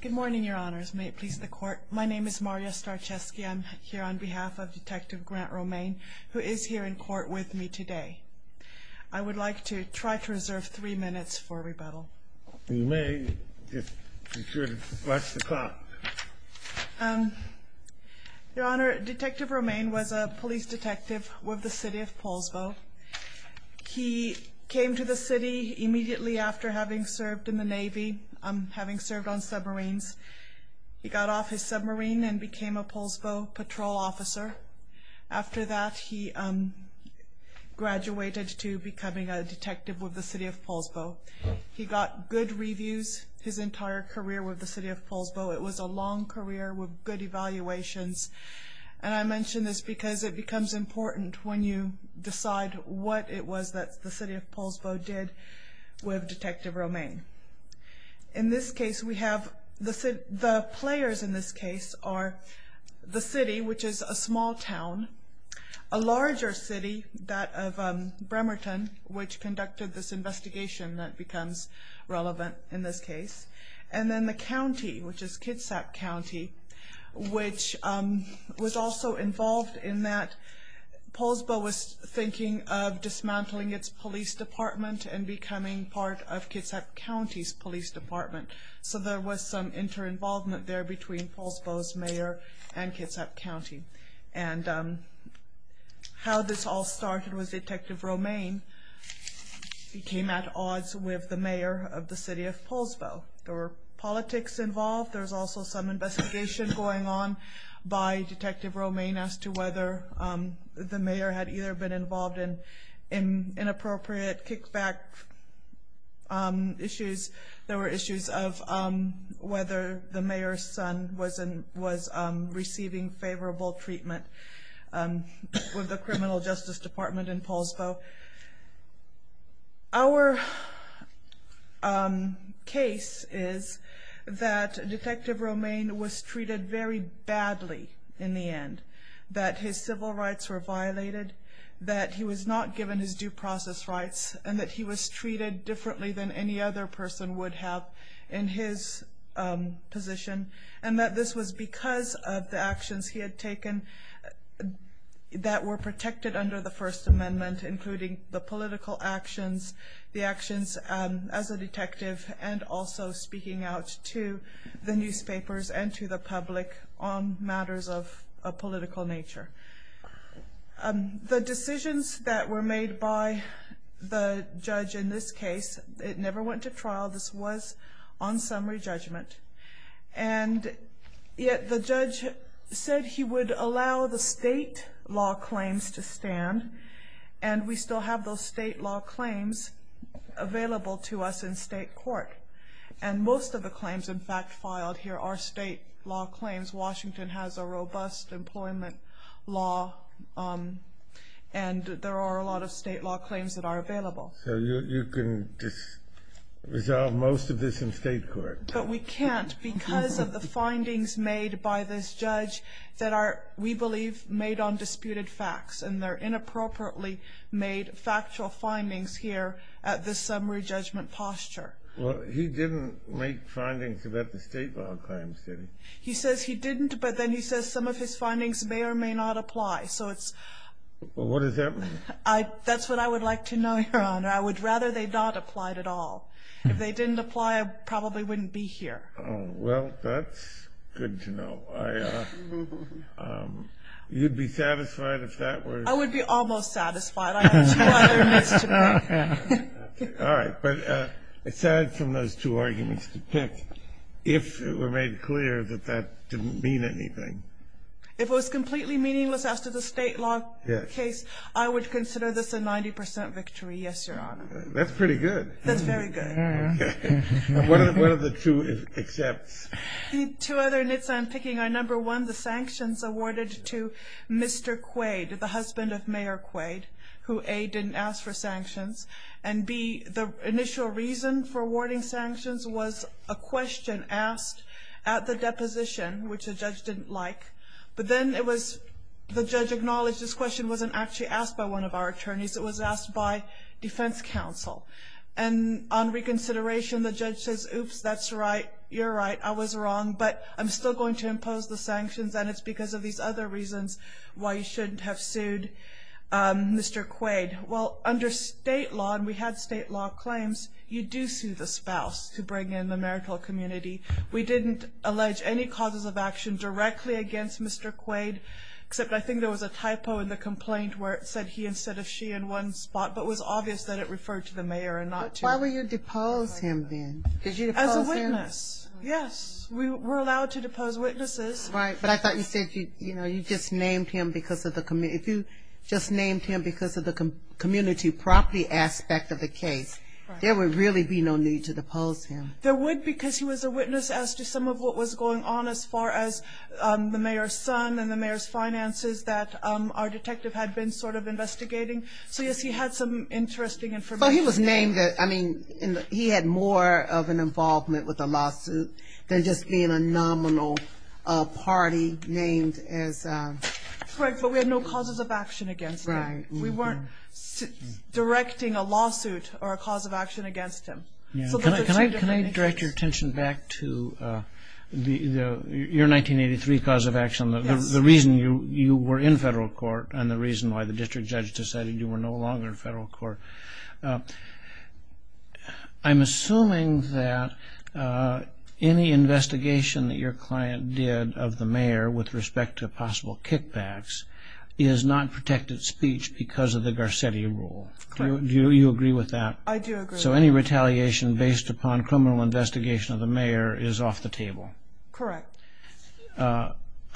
Good morning, your honors. May it please the court. My name is Maria Starczewski. I'm here on behalf of Detective Grant Romaine, who is here in court with me today. I would like to try to reserve three minutes for rebuttal. You may, if you should. Watch the clock. Your honor, Detective Romaine was a police detective with the City of Poulsbo. He came to the city immediately after having served in the Navy, having served on submarines. He got off his submarine and became a Poulsbo patrol officer. After that, he graduated to becoming a detective with the City of Poulsbo. He got good reviews his entire career with the City of Poulsbo. It was a long career with good evaluations, and I mention this because it becomes important when you decide what it was that the City of Poulsbo did with Detective Romaine. In this case, we have the players in this case are the city, which is a small town, a larger city, that of Bremerton, which conducted this investigation that becomes relevant in this case, and then the county, which is Kitsap County, which was also involved in that. Poulsbo was thinking of dismantling its police department and becoming part of Kitsap County's police department, so there was some inter-involvement there between Poulsbo's mayor and Kitsap County. How this all started was Detective Romaine came at odds with the mayor of the City of Poulsbo. There were politics involved. There was also some investigation going on by Detective Romaine as to whether the mayor had either been involved in inappropriate kickback issues. There were issues of whether the mayor's son was receiving favorable treatment with the criminal justice department in Poulsbo. Our case is that Detective Romaine was treated very badly in the end, that his civil rights were violated, that he was not given his due process rights, and that he was treated differently than any other person would have in his position. This was because of the actions he had taken that were protected under the First Amendment, including the political actions, the actions as a detective, and also speaking out to the newspapers and to the public on matters of a political nature. The decisions that were made by the judge in this case, it never went to trial, this was on summary judgment, and yet the judge said he would allow the state law claims to stand, and we still have those state law claims available to us in state court. And most of the claims in fact filed here are state law claims. Washington has a robust employment law, and there are a lot of state law claims that are available. So you can just resolve most of this in state court? But we can't because of the findings made by this judge that are, we believe, made on disputed facts, and they're inappropriately made factual findings here at this summary judgment posture. Well, he didn't make findings about the state law claims, did he? He says he didn't, but then he says some of his findings may or may not apply, so it's... Well, what does that mean? That's what I would like to know, Your Honor. I would rather they not applied at all. If they didn't apply, I probably wouldn't be here. Oh, well, that's good to know. You'd be satisfied if that were... I would be almost satisfied. I have two other myths to make. All right, but aside from those two arguments to pick, if it were made clear that that didn't mean anything... If it was completely meaningless after the state law case, I would consider this a 90% victory, yes, Your Honor. That's pretty good. That's very good. What are the two accepts? Two other myths I'm picking are, number one, the sanctions awarded to Mr. Quaid, the husband of Mayor Quaid, who, A, didn't ask for sanctions, and, B, the initial reason for awarding sanctions was a question asked at the deposition, which the judge didn't like, but then the judge acknowledged this question wasn't actually asked by one of our attorneys. It was asked by defense counsel. And on reconsideration, the judge says, oops, that's right, you're right, I was wrong, but I'm still going to impose the sanctions, and it's because of these other reasons why you shouldn't have sued Mr. Quaid. Well, under state law, and we had state law claims, you do sue the spouse to bring in the marital community. We didn't allege any causes of action directly against Mr. Quaid, except I think there was a typo in the complaint where it said he instead of she in one spot, but it was obvious that it referred to the mayor and not to him. Why would you depose him then? As a witness, yes, we're allowed to depose witnesses. Right, but I thought you said you just named him because of the community. If you just named him because of the community property aspect of the case, there would really be no need to depose him. There would because he was a witness as to some of what was going on as far as the mayor's son and the mayor's finances that our detective had been sort of investigating. So, yes, he had some interesting information. But he was named, I mean, he had more of an involvement with the lawsuit than just being a nominal party named as... Correct, but we had no causes of action against him. We weren't directing a lawsuit or a cause of action against him. Can I direct your attention back to your 1983 cause of action, the reason you were in federal court and the reason why the district judge decided you were no longer in federal court. I'm assuming that any investigation that your client did of the mayor with respect to possible kickbacks is not protected speech because of the Garcetti rule. Correct. I do agree with that. So any retaliation based upon criminal investigation of the mayor is off the table. Correct.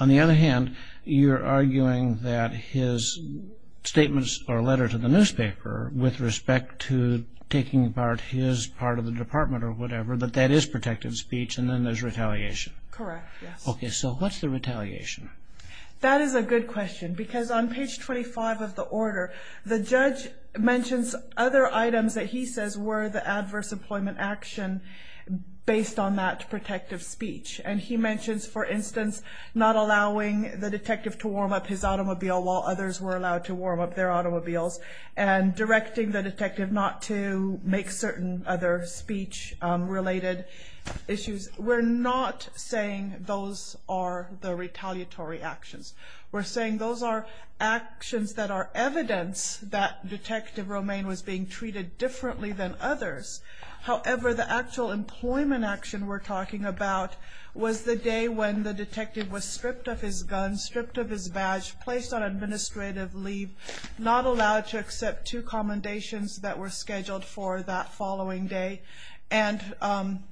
On the other hand, you're arguing that his statements or letter to the newspaper with respect to taking apart his part of the department or whatever, that that is protected speech and then there's retaliation. Correct, yes. Okay, so what's the retaliation? That is a good question because on page 25 of the order, the judge mentions other items that he says were the adverse employment action based on that protective speech and he mentions, for instance, not allowing the detective to warm up his automobile while others were allowed to warm up their automobiles and directing the detective not to make certain other speech related issues. We're not saying those are the retaliatory actions. We're saying those are actions that are evidence that Detective Romaine was being treated differently than others. However, the actual employment action we're talking about was the day when the detective was stripped of his gun, stripped of his badge, placed on administrative leave, not allowed to accept two commendations that were scheduled for that following day and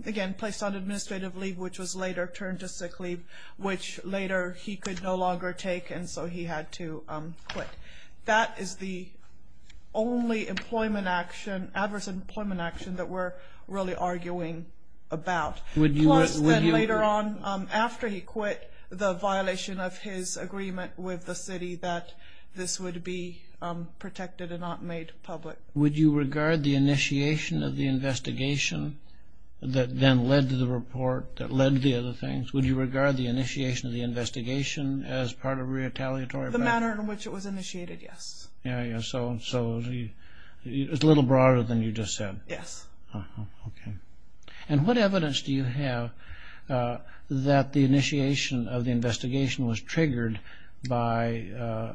again, placed on administrative leave, which was later turned to sick leave, which later he could no longer take and so he had to quit. That is the only employment action, adverse employment action, that we're really arguing about. Plus, then later on, after he quit, the violation of his agreement with the city that this would be protected and not made public. Would you regard the initiation of the investigation that then led to the report, that led to the other things, would you regard the initiation of the investigation as part of retaliatory? The manner in which it was initiated, yes. Yeah, so it's a little broader than you just said. Yes. Okay. And what evidence do you have that the initiation of the investigation was triggered by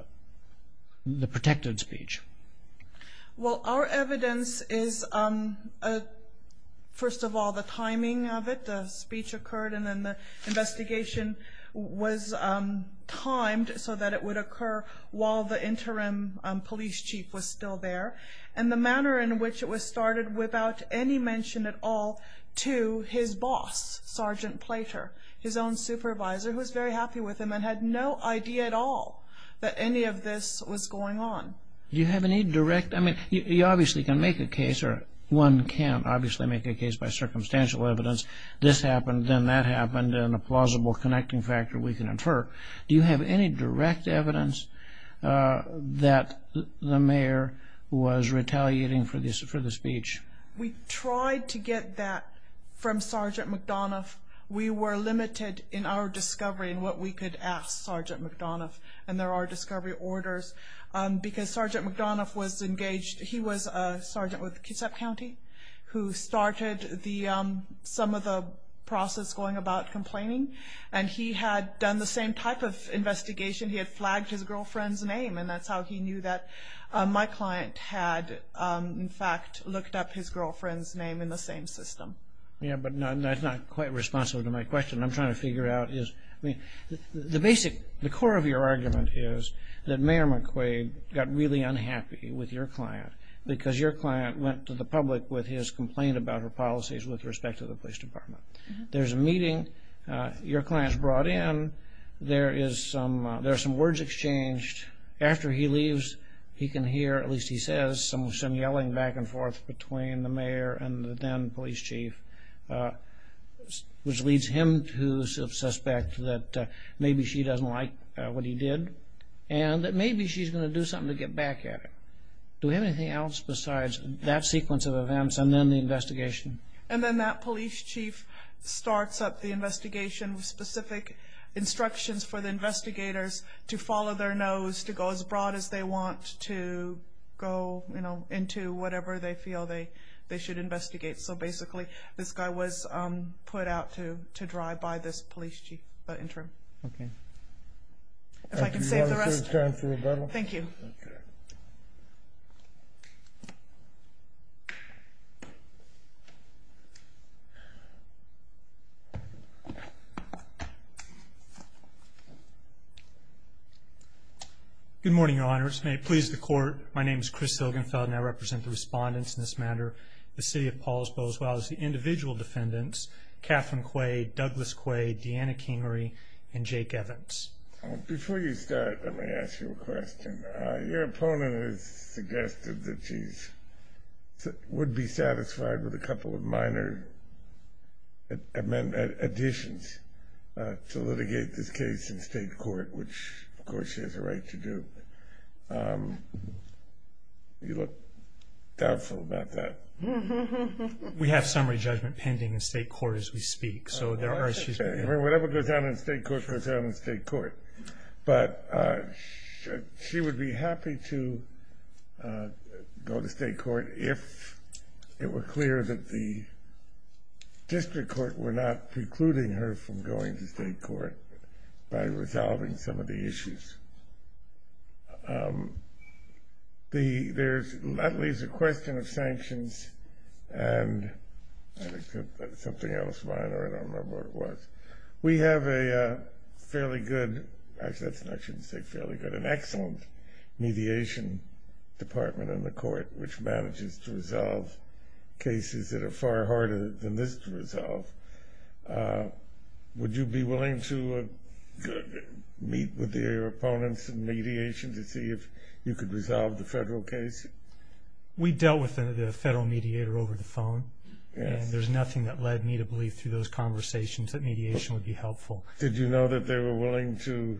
the protected speech? Well, our evidence is, first of all, the timing of it. The speech occurred and then the investigation was timed so that it would occur while the interim police chief was still there. And the manner in which it was started without any mention at all to his boss, Sergeant Plater, his own supervisor, who was very happy with him and had no idea at all that any of this was going on. Do you have any direct? I mean, you obviously can make a case, or one can obviously make a case by circumstantial evidence. This happened, then that happened, and a plausible connecting factor we can infer. Do you have any direct evidence that the mayor was retaliating for the speech? We tried to get that from Sergeant McDonough. We were limited in our discovery and what we could ask Sergeant McDonough. And there are discovery orders because Sergeant McDonough was engaged. He was a sergeant with Kitsap County who started some of the process going about complaining, and he had done the same type of investigation. He had flagged his girlfriend's name, and that's how he knew that my client had, in fact, looked up his girlfriend's name in the same system. Yeah, but that's not quite responsive to my question. I'm trying to figure out, I mean, the core of your argument is that Mayor McQuaid got really unhappy with your client because your client went to the public with his complaint about her policies with respect to the police department. There's a meeting. Your client's brought in. There are some words exchanged. After he leaves, he can hear, at least he says, some yelling back and forth between the mayor and the then police chief, which leads him to suspect that maybe she doesn't like what he did and that maybe she's going to do something to get back at him. Do we have anything else besides that sequence of events and then the investigation? And then that police chief starts up the investigation with specific instructions for the investigators to follow their nose, to go as broad as they want, to go into whatever they feel they should investigate. So basically this guy was put out to drive by this police chief. Okay. If I can save the rest. Thank you. Okay. Good morning, Your Honors. May it please the Court, my name is Chris Hilgenfeld, and I represent the respondents in this matter, the City of Paulsbo, as well as the individual defendants, Catherine Quaid, Douglas Quaid, Deanna Kamery, and Jake Evans. Before you start, let me ask you a question. Your opponent has suggested that she would be satisfied with a couple of minor additions to litigate this case in state court, which, of course, she has a right to do. You look doubtful about that. We have summary judgment pending in state court as we speak, so there are issues. Whatever goes down in state court goes down in state court. But she would be happy to go to state court if it were clear that the district court were not precluding her from going to state court by resolving some of the issues. There's at least a question of sanctions and something else minor, I don't remember what it was. We have a fairly good, actually I shouldn't say fairly good, an excellent mediation department in the court which manages to resolve cases that are far harder than this to resolve. Would you be willing to meet with your opponents in mediation to see if you could resolve the federal case? We dealt with the federal mediator over the phone, and there's nothing that led me to believe through those conversations that mediation would be helpful. Did you know that they were willing to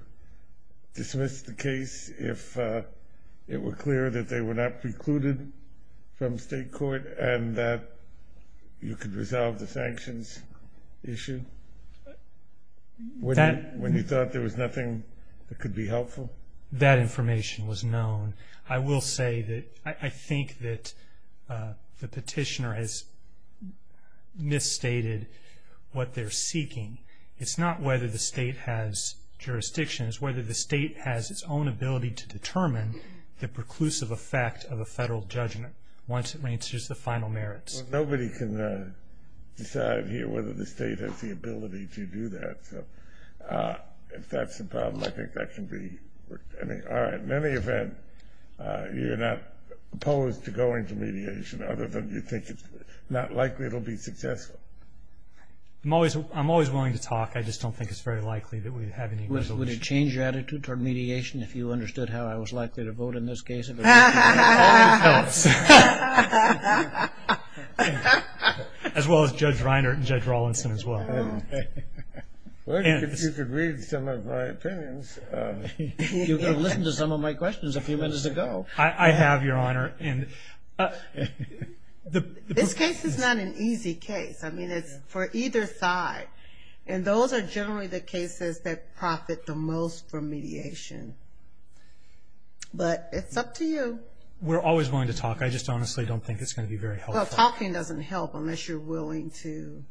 dismiss the case if it were clear that they were not precluded from state court and that you could resolve the sanctions issue? When you thought there was nothing that could be helpful? That information was known. I will say that I think that the petitioner has misstated what they're seeking. It's not whether the state has jurisdictions, it's whether the state has its own ability to determine the preclusive effect of a federal judgment once it reaches the final merits. Nobody can decide here whether the state has the ability to do that. If that's the problem, I think that can be worked. In any event, you're not opposed to going to mediation other than you think it's not likely it will be successful? I'm always willing to talk. I just don't think it's very likely that we'd have any resolution. Would it change your attitude toward mediation if you understood how I was likely to vote in this case? Only tell us. As well as Judge Reiner and Judge Rawlinson as well. Well, if you could read some of my opinions. You could have listened to some of my questions a few minutes ago. I have, Your Honor. This case is not an easy case. I mean, it's for either side. And those are generally the cases that profit the most from mediation. But it's up to you. We're always willing to talk. I just honestly don't think it's going to be very helpful. Well, talking doesn't help unless you're willing to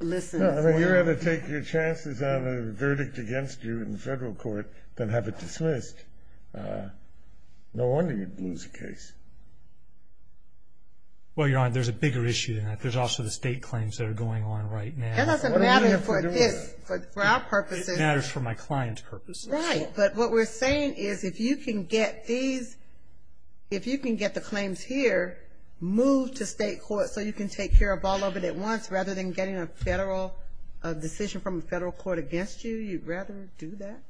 listen. You're going to take your chances on a verdict against you in federal court, then have it dismissed. No wonder you'd lose the case. Well, Your Honor, there's a bigger issue than that. There's also the state claims that are going on right now. That doesn't matter for this. For our purposes. It matters for my client's purposes. Right. But what we're saying is if you can get these, if you can get the claims here, move to state court so you can take care of all of it at once rather than getting a federal decision from a federal court against you, you'd rather do that?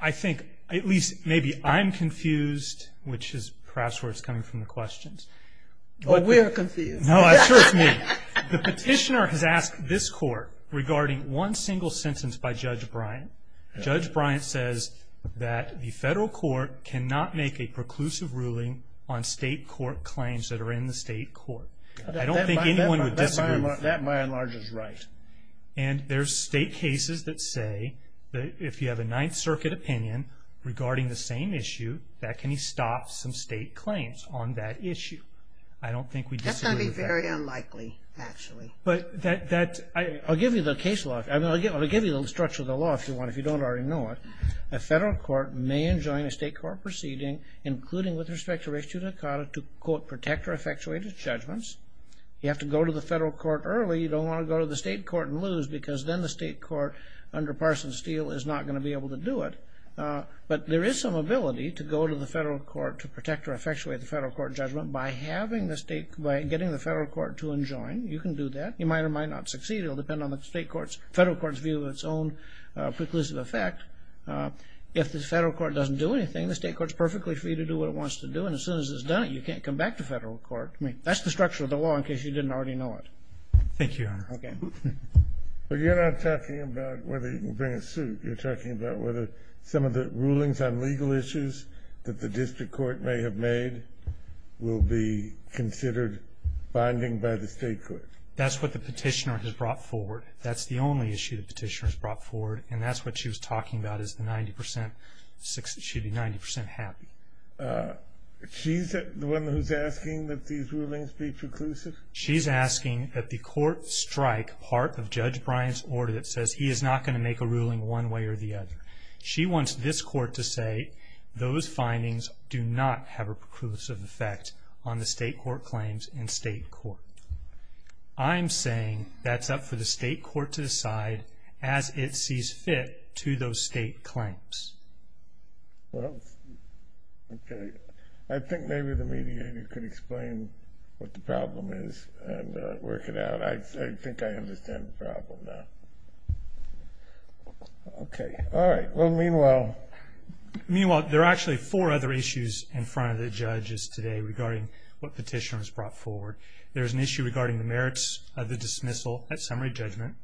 I think, at least maybe I'm confused, which is perhaps where it's coming from the questions. Well, we're confused. No, I'm sure it's me. The petitioner has asked this court regarding one single sentence by Judge Bryant. Judge Bryant says that the federal court cannot make a preclusive ruling on state court claims that are in the state court. I don't think anyone would disagree with that. That, by and large, is right. And there's state cases that say that if you have a Ninth Circuit opinion regarding the same issue, that can stop some state claims on that issue. I don't think we disagree with that. That's going to be very unlikely, actually. But that, I'll give you the case law. I mean, I'll give you the structure of the law if you want, if you don't already know it. A federal court may enjoin a state court proceeding, including with respect to race judicata, to quote, protect or effectuate its judgments. You have to go to the federal court early. You don't want to go to the state court and lose because then the state court, under Parsons Steele, is not going to be able to do it. But there is some ability to go to the federal court to protect or effectuate the federal court judgment by getting the federal court to enjoin. You can do that. You might or might not succeed. It will depend on the federal court's view of its own preclusive effect. If the federal court doesn't do anything, the state court is perfectly free to do what it wants to do. And as soon as it's done it, you can't come back to federal court. I mean, that's the structure of the law in case you didn't already know it. Thank you, Your Honor. Okay. But you're not talking about whether you can bring a suit. You're talking about whether some of the rulings on legal issues that the district court may have made will be considered binding by the state court. That's what the petitioner has brought forward. That's the only issue the petitioner has brought forward, and that's what she was talking about is the 90 percent, she'd be 90 percent happy. She's the one who's asking that these rulings be preclusive? She's asking that the court strike part of Judge Bryant's order that says he is not going to make a ruling one way or the other. She wants this court to say those findings do not have a preclusive effect on the state court claims and state court. I'm saying that's up for the state court to decide as it sees fit to those state claims. Well, okay. I think maybe the mediator could explain what the problem is and work it out. I think I understand the problem now. Okay. All right. Well, meanwhile. Meanwhile, there are actually four other issues in front of the judges today regarding what petitioner has brought forward. There is an issue regarding the merits of the dismissal at summary judgment,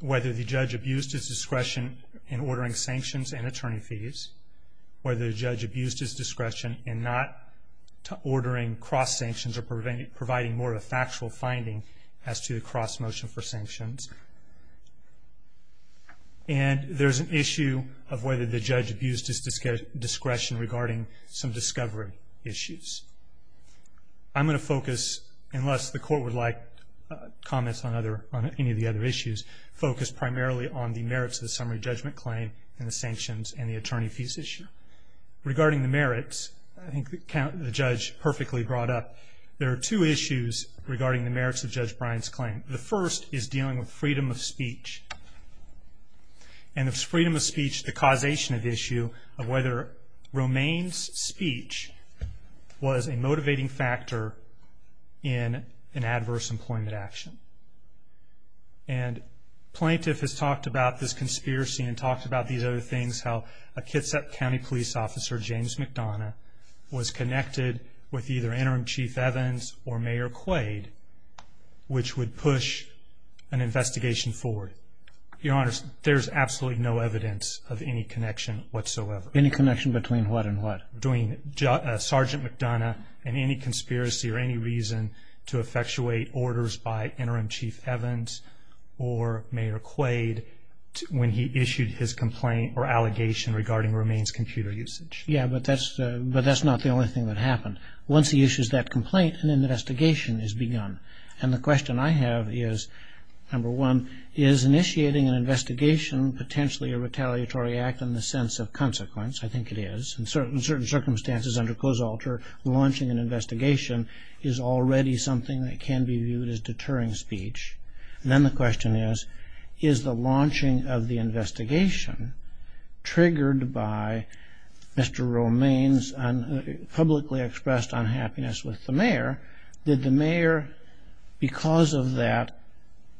whether the judge abused his discretion in ordering sanctions and attorney fees, whether the judge abused his discretion in not ordering cross-sanctions or providing more of a factual finding as to the cross-motion for sanctions. And there's an issue of whether the judge abused his discretion regarding some discovery issues. I'm going to focus, unless the court would like comments on any of the other issues, focus primarily on the merits of the summary judgment claim and the sanctions and the attorney fees issue. Regarding the merits, I think the judge perfectly brought up, there are two issues regarding the merits of Judge Bryant's claim. The first is dealing with freedom of speech. And it's freedom of speech, the causation of the issue, of whether Romaine's speech was a motivating factor in an adverse employment action. And plaintiff has talked about this conspiracy and talked about these other things, how a Kitsap County police officer, James McDonough, was connected with either Interim Chief Evans or Mayor Quaid, which would push an investigation forward. Your Honor, there's absolutely no evidence of any connection whatsoever. Any connection between what and what? Between Sergeant McDonough and any conspiracy or any reason to effectuate orders by Interim Chief Evans or Mayor Quaid when he issued his complaint or allegation regarding Romaine's computer usage. Yeah, but that's not the only thing that happened. Once he issues that complaint, an investigation is begun. And the question I have is, number one, is initiating an investigation potentially a retaliatory act in the sense of consequence? I think it is. In certain circumstances under COSALTR, launching an investigation is already something that can be viewed as deterring speech. And then the question is, is the launching of the investigation triggered by Mr. Romaine's publicly expressed unhappiness with the mayor? Did the mayor, because of that,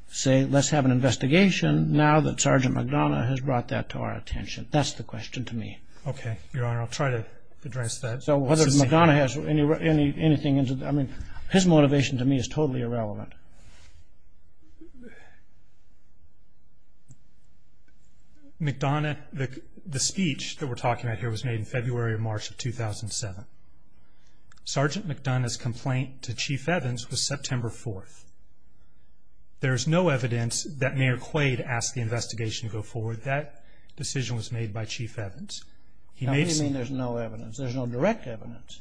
say, let's have an investigation now that Sergeant McDonough has brought that to our attention? That's the question to me. Okay, Your Honor, I'll try to address that. So whether McDonough has anything, I mean, his motivation to me is totally irrelevant. McDonough, the speech that we're talking about here was made in February or March of 2007. Sergeant McDonough's complaint to Chief Evans was September 4th. There is no evidence that Mayor Quaid asked the investigation to go forward. That decision was made by Chief Evans. What do you mean there's no evidence? There's no direct evidence.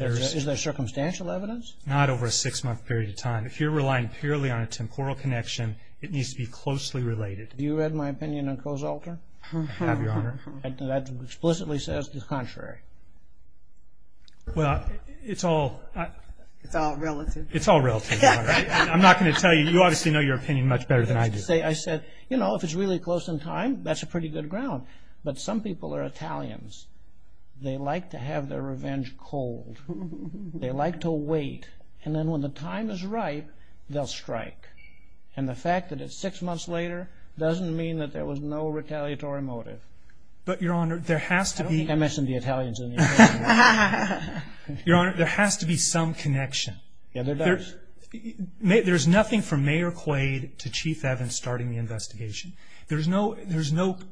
Is there circumstantial evidence? Not over a six-month period of time. If you're relying purely on a temporal connection, it needs to be closely related. Have you read my opinion on Cozalter? I have, Your Honor. That explicitly says the contrary. Well, it's all relative. It's all relative, Your Honor. I'm not going to tell you. You obviously know your opinion much better than I do. I said, you know, if it's really close in time, that's a pretty good ground. But some people are Italians. They like to have their revenge cold. They like to wait. And then when the time is right, they'll strike. And the fact that it's six months later doesn't mean that there was no retaliatory motive. But, Your Honor, there has to be... I don't think I mentioned the Italians in the interview. Your Honor, there has to be some connection. Yeah, there does. There's nothing from Mayor Quaid to Chief Evans starting the investigation. There's no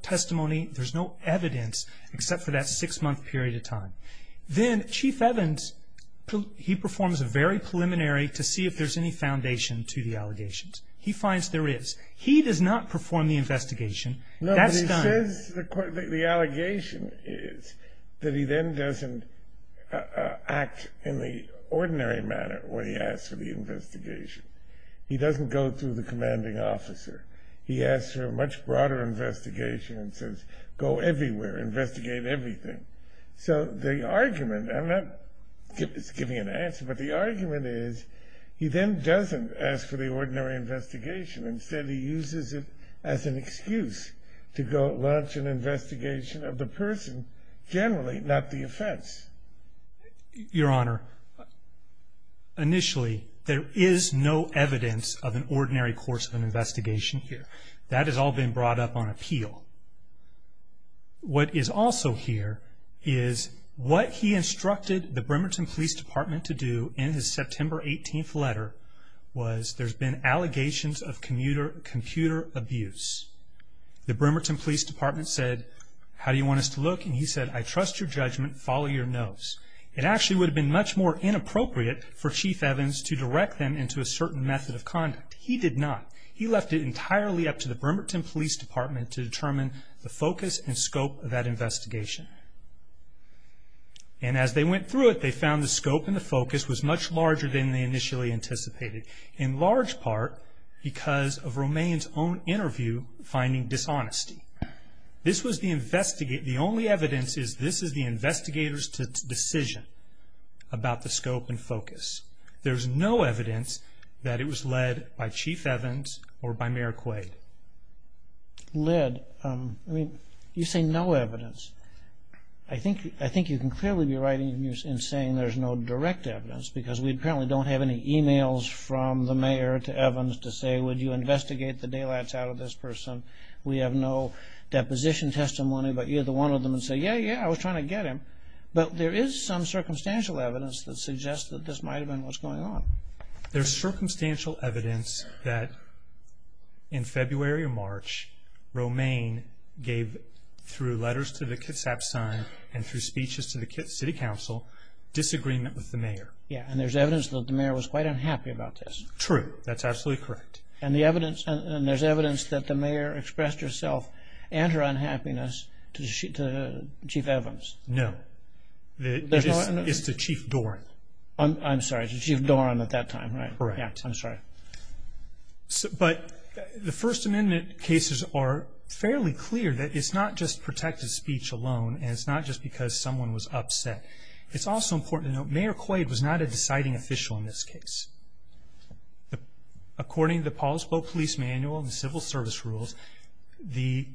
testimony, there's no evidence except for that six-month period of time. Then Chief Evans, he performs a very preliminary to see if there's any foundation to the allegations. He finds there is. He does not perform the investigation. That's done. No, but he says the allegation is that he then doesn't act in the ordinary manner when he asks for the investigation. He doesn't go through the commanding officer. He asks for a much broader investigation and says, go everywhere, investigate everything. So the argument, I'm not giving an answer, but the argument is he then doesn't ask for the ordinary investigation. Instead, he uses it as an excuse to go launch an investigation of the person generally, not the offense. Your Honor, initially, there is no evidence of an ordinary course of an investigation here. That has all been brought up on appeal. What is also here is what he instructed the Bremerton Police Department to do in his September 18th letter was there's been allegations of computer abuse. The Bremerton Police Department said, how do you want us to look? And he said, I trust your judgment, follow your nose. It actually would have been much more inappropriate for Chief Evans to direct them into a certain method of conduct. He did not. He left it entirely up to the Bremerton Police Department to determine the focus and scope of that investigation. And as they went through it, they found the scope and the focus was much larger than they initially anticipated, in large part because of Romaine's own interview finding dishonesty. This was the only evidence is this is the investigator's decision about the scope and focus. There's no evidence that it was led by Chief Evans or by Mayor Quaid. Led? I mean, you say no evidence. I think you can clearly be right in saying there's no direct evidence because we apparently don't have any e-mails from the mayor to Evans to say, would you investigate the daylights out of this person? We have no deposition testimony, but you're the one of them and say, yeah, yeah, I was trying to get him. But there is some circumstantial evidence that suggests that this might have been what's going on. There's circumstantial evidence that in February or March, Romaine gave, through letters to the Kitsap Sun and through speeches to the City Council, disagreement with the mayor. Yeah, and there's evidence that the mayor was quite unhappy about this. True, that's absolutely correct. And there's evidence that the mayor expressed herself and her unhappiness to Chief Evans. No, it's to Chief Doran. I'm sorry, it's to Chief Doran at that time, right? Correct. I'm sorry. But the First Amendment cases are fairly clear that it's not just protected speech alone and it's not just because someone was upset. It's also important to note Mayor Quaid was not a deciding official in this case. According to the Paul Spoke Police Manual and the Civil Service Rules, the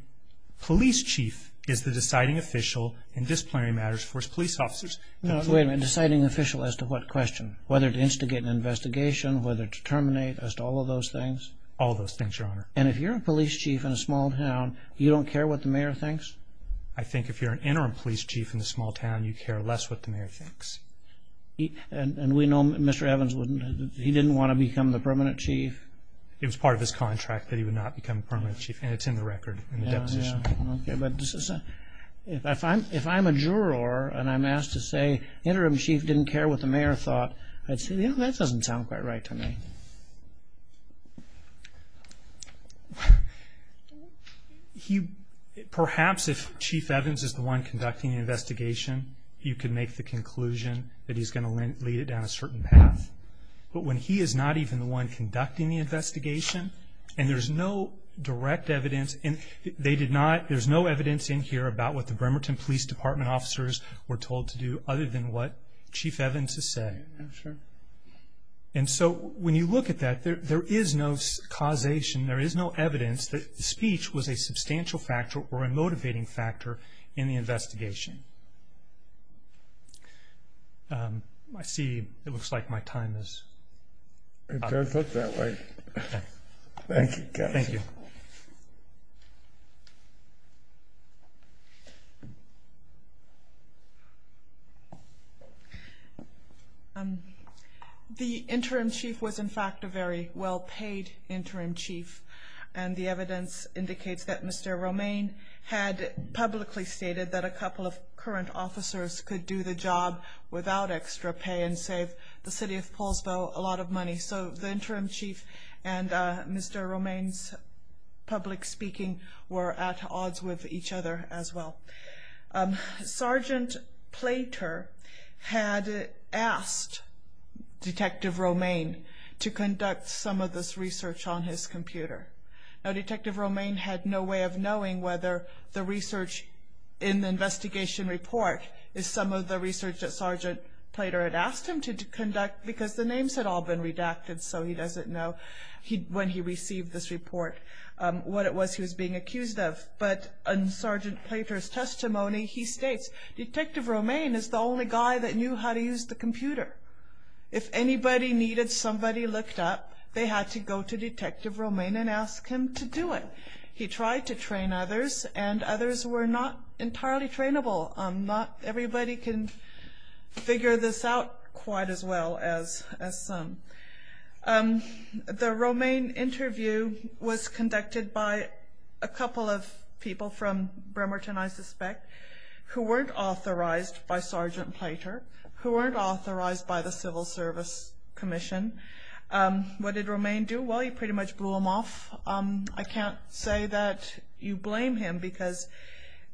police chief is the deciding official in disciplinary matters for his police officers. Now, wait a minute. Deciding official as to what question? Whether to instigate an investigation, whether to terminate, as to all of those things? All of those things, Your Honor. And if you're a police chief in a small town, you don't care what the mayor thinks? I think if you're an interim police chief in a small town, you care less what the mayor thinks. And we know Mr. Evans, he didn't want to become the permanent chief? It was part of his contract that he would not become a permanent chief, and it's in the record in the deposition. Okay, but if I'm a juror and I'm asked to say interim chief didn't care what the mayor thought, I'd say, you know, that doesn't sound quite right to me. Perhaps if Chief Evans is the one conducting the investigation, you could make the conclusion that he's going to lead it down a certain path. But when he is not even the one conducting the investigation, and there's no direct evidence, and they did not, there's no evidence in here about what the Bremerton Police Department officers were told to do, other than what Chief Evans has said. I'm sure. And so when you look at that, there is no causation, there is no evidence, that the speech was a substantial factor or a motivating factor in the investigation. I see it looks like my time is up. It does look that way. Okay. Thank you, Kevin. Thank you. The interim chief was, in fact, a very well-paid interim chief, and the evidence indicates that Mr. Romaine had publicly stated that a couple of current officers could do the job without extra pay and save the city of Polesville a lot of money. So the interim chief and Mr. Romaine's public speaking were at odds with each other as well. Sergeant Plater had asked Detective Romaine to conduct some of this research on his computer. Now, Detective Romaine had no way of knowing whether the research in the investigation report is some of the research that Sergeant Plater had asked him to conduct because the names had all been redacted, so he doesn't know when he received this report what it was he was being accused of. But in Sergeant Plater's testimony, he states, Detective Romaine is the only guy that knew how to use the computer. If anybody needed somebody looked up, they had to go to Detective Romaine and ask him to do it. He tried to train others, and others were not entirely trainable. Not everybody can figure this out quite as well as some. The Romaine interview was conducted by a couple of people from Bremerton, I suspect, who weren't authorized by Sergeant Plater, who weren't authorized by the Civil Service Commission. What did Romaine do? Well, he pretty much blew them off. I can't say that you blame him because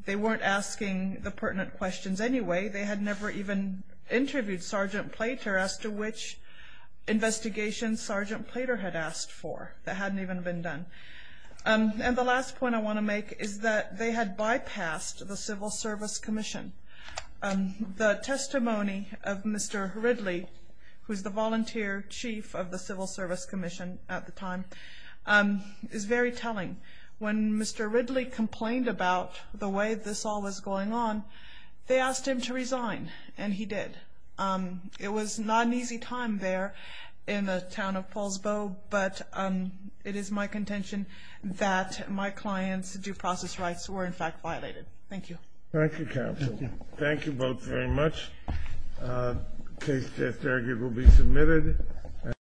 they weren't asking the pertinent questions anyway. They had never even interviewed Sergeant Plater as to which investigation Sergeant Plater had asked for that hadn't even been done. And the last point I want to make is that they had bypassed the Civil Service Commission. The testimony of Mr. Ridley, who was the volunteer chief of the Civil Service Commission at the time, is very telling. When Mr. Ridley complained about the way this all was going on, they asked him to resign, and he did. It was not an easy time there in the town of Paulsbo, but it is my contention that my client's due process rights were in fact violated. Thank you. Thank you, Counsel. Thank you. Thank you both very much. Case test argument will be submitted.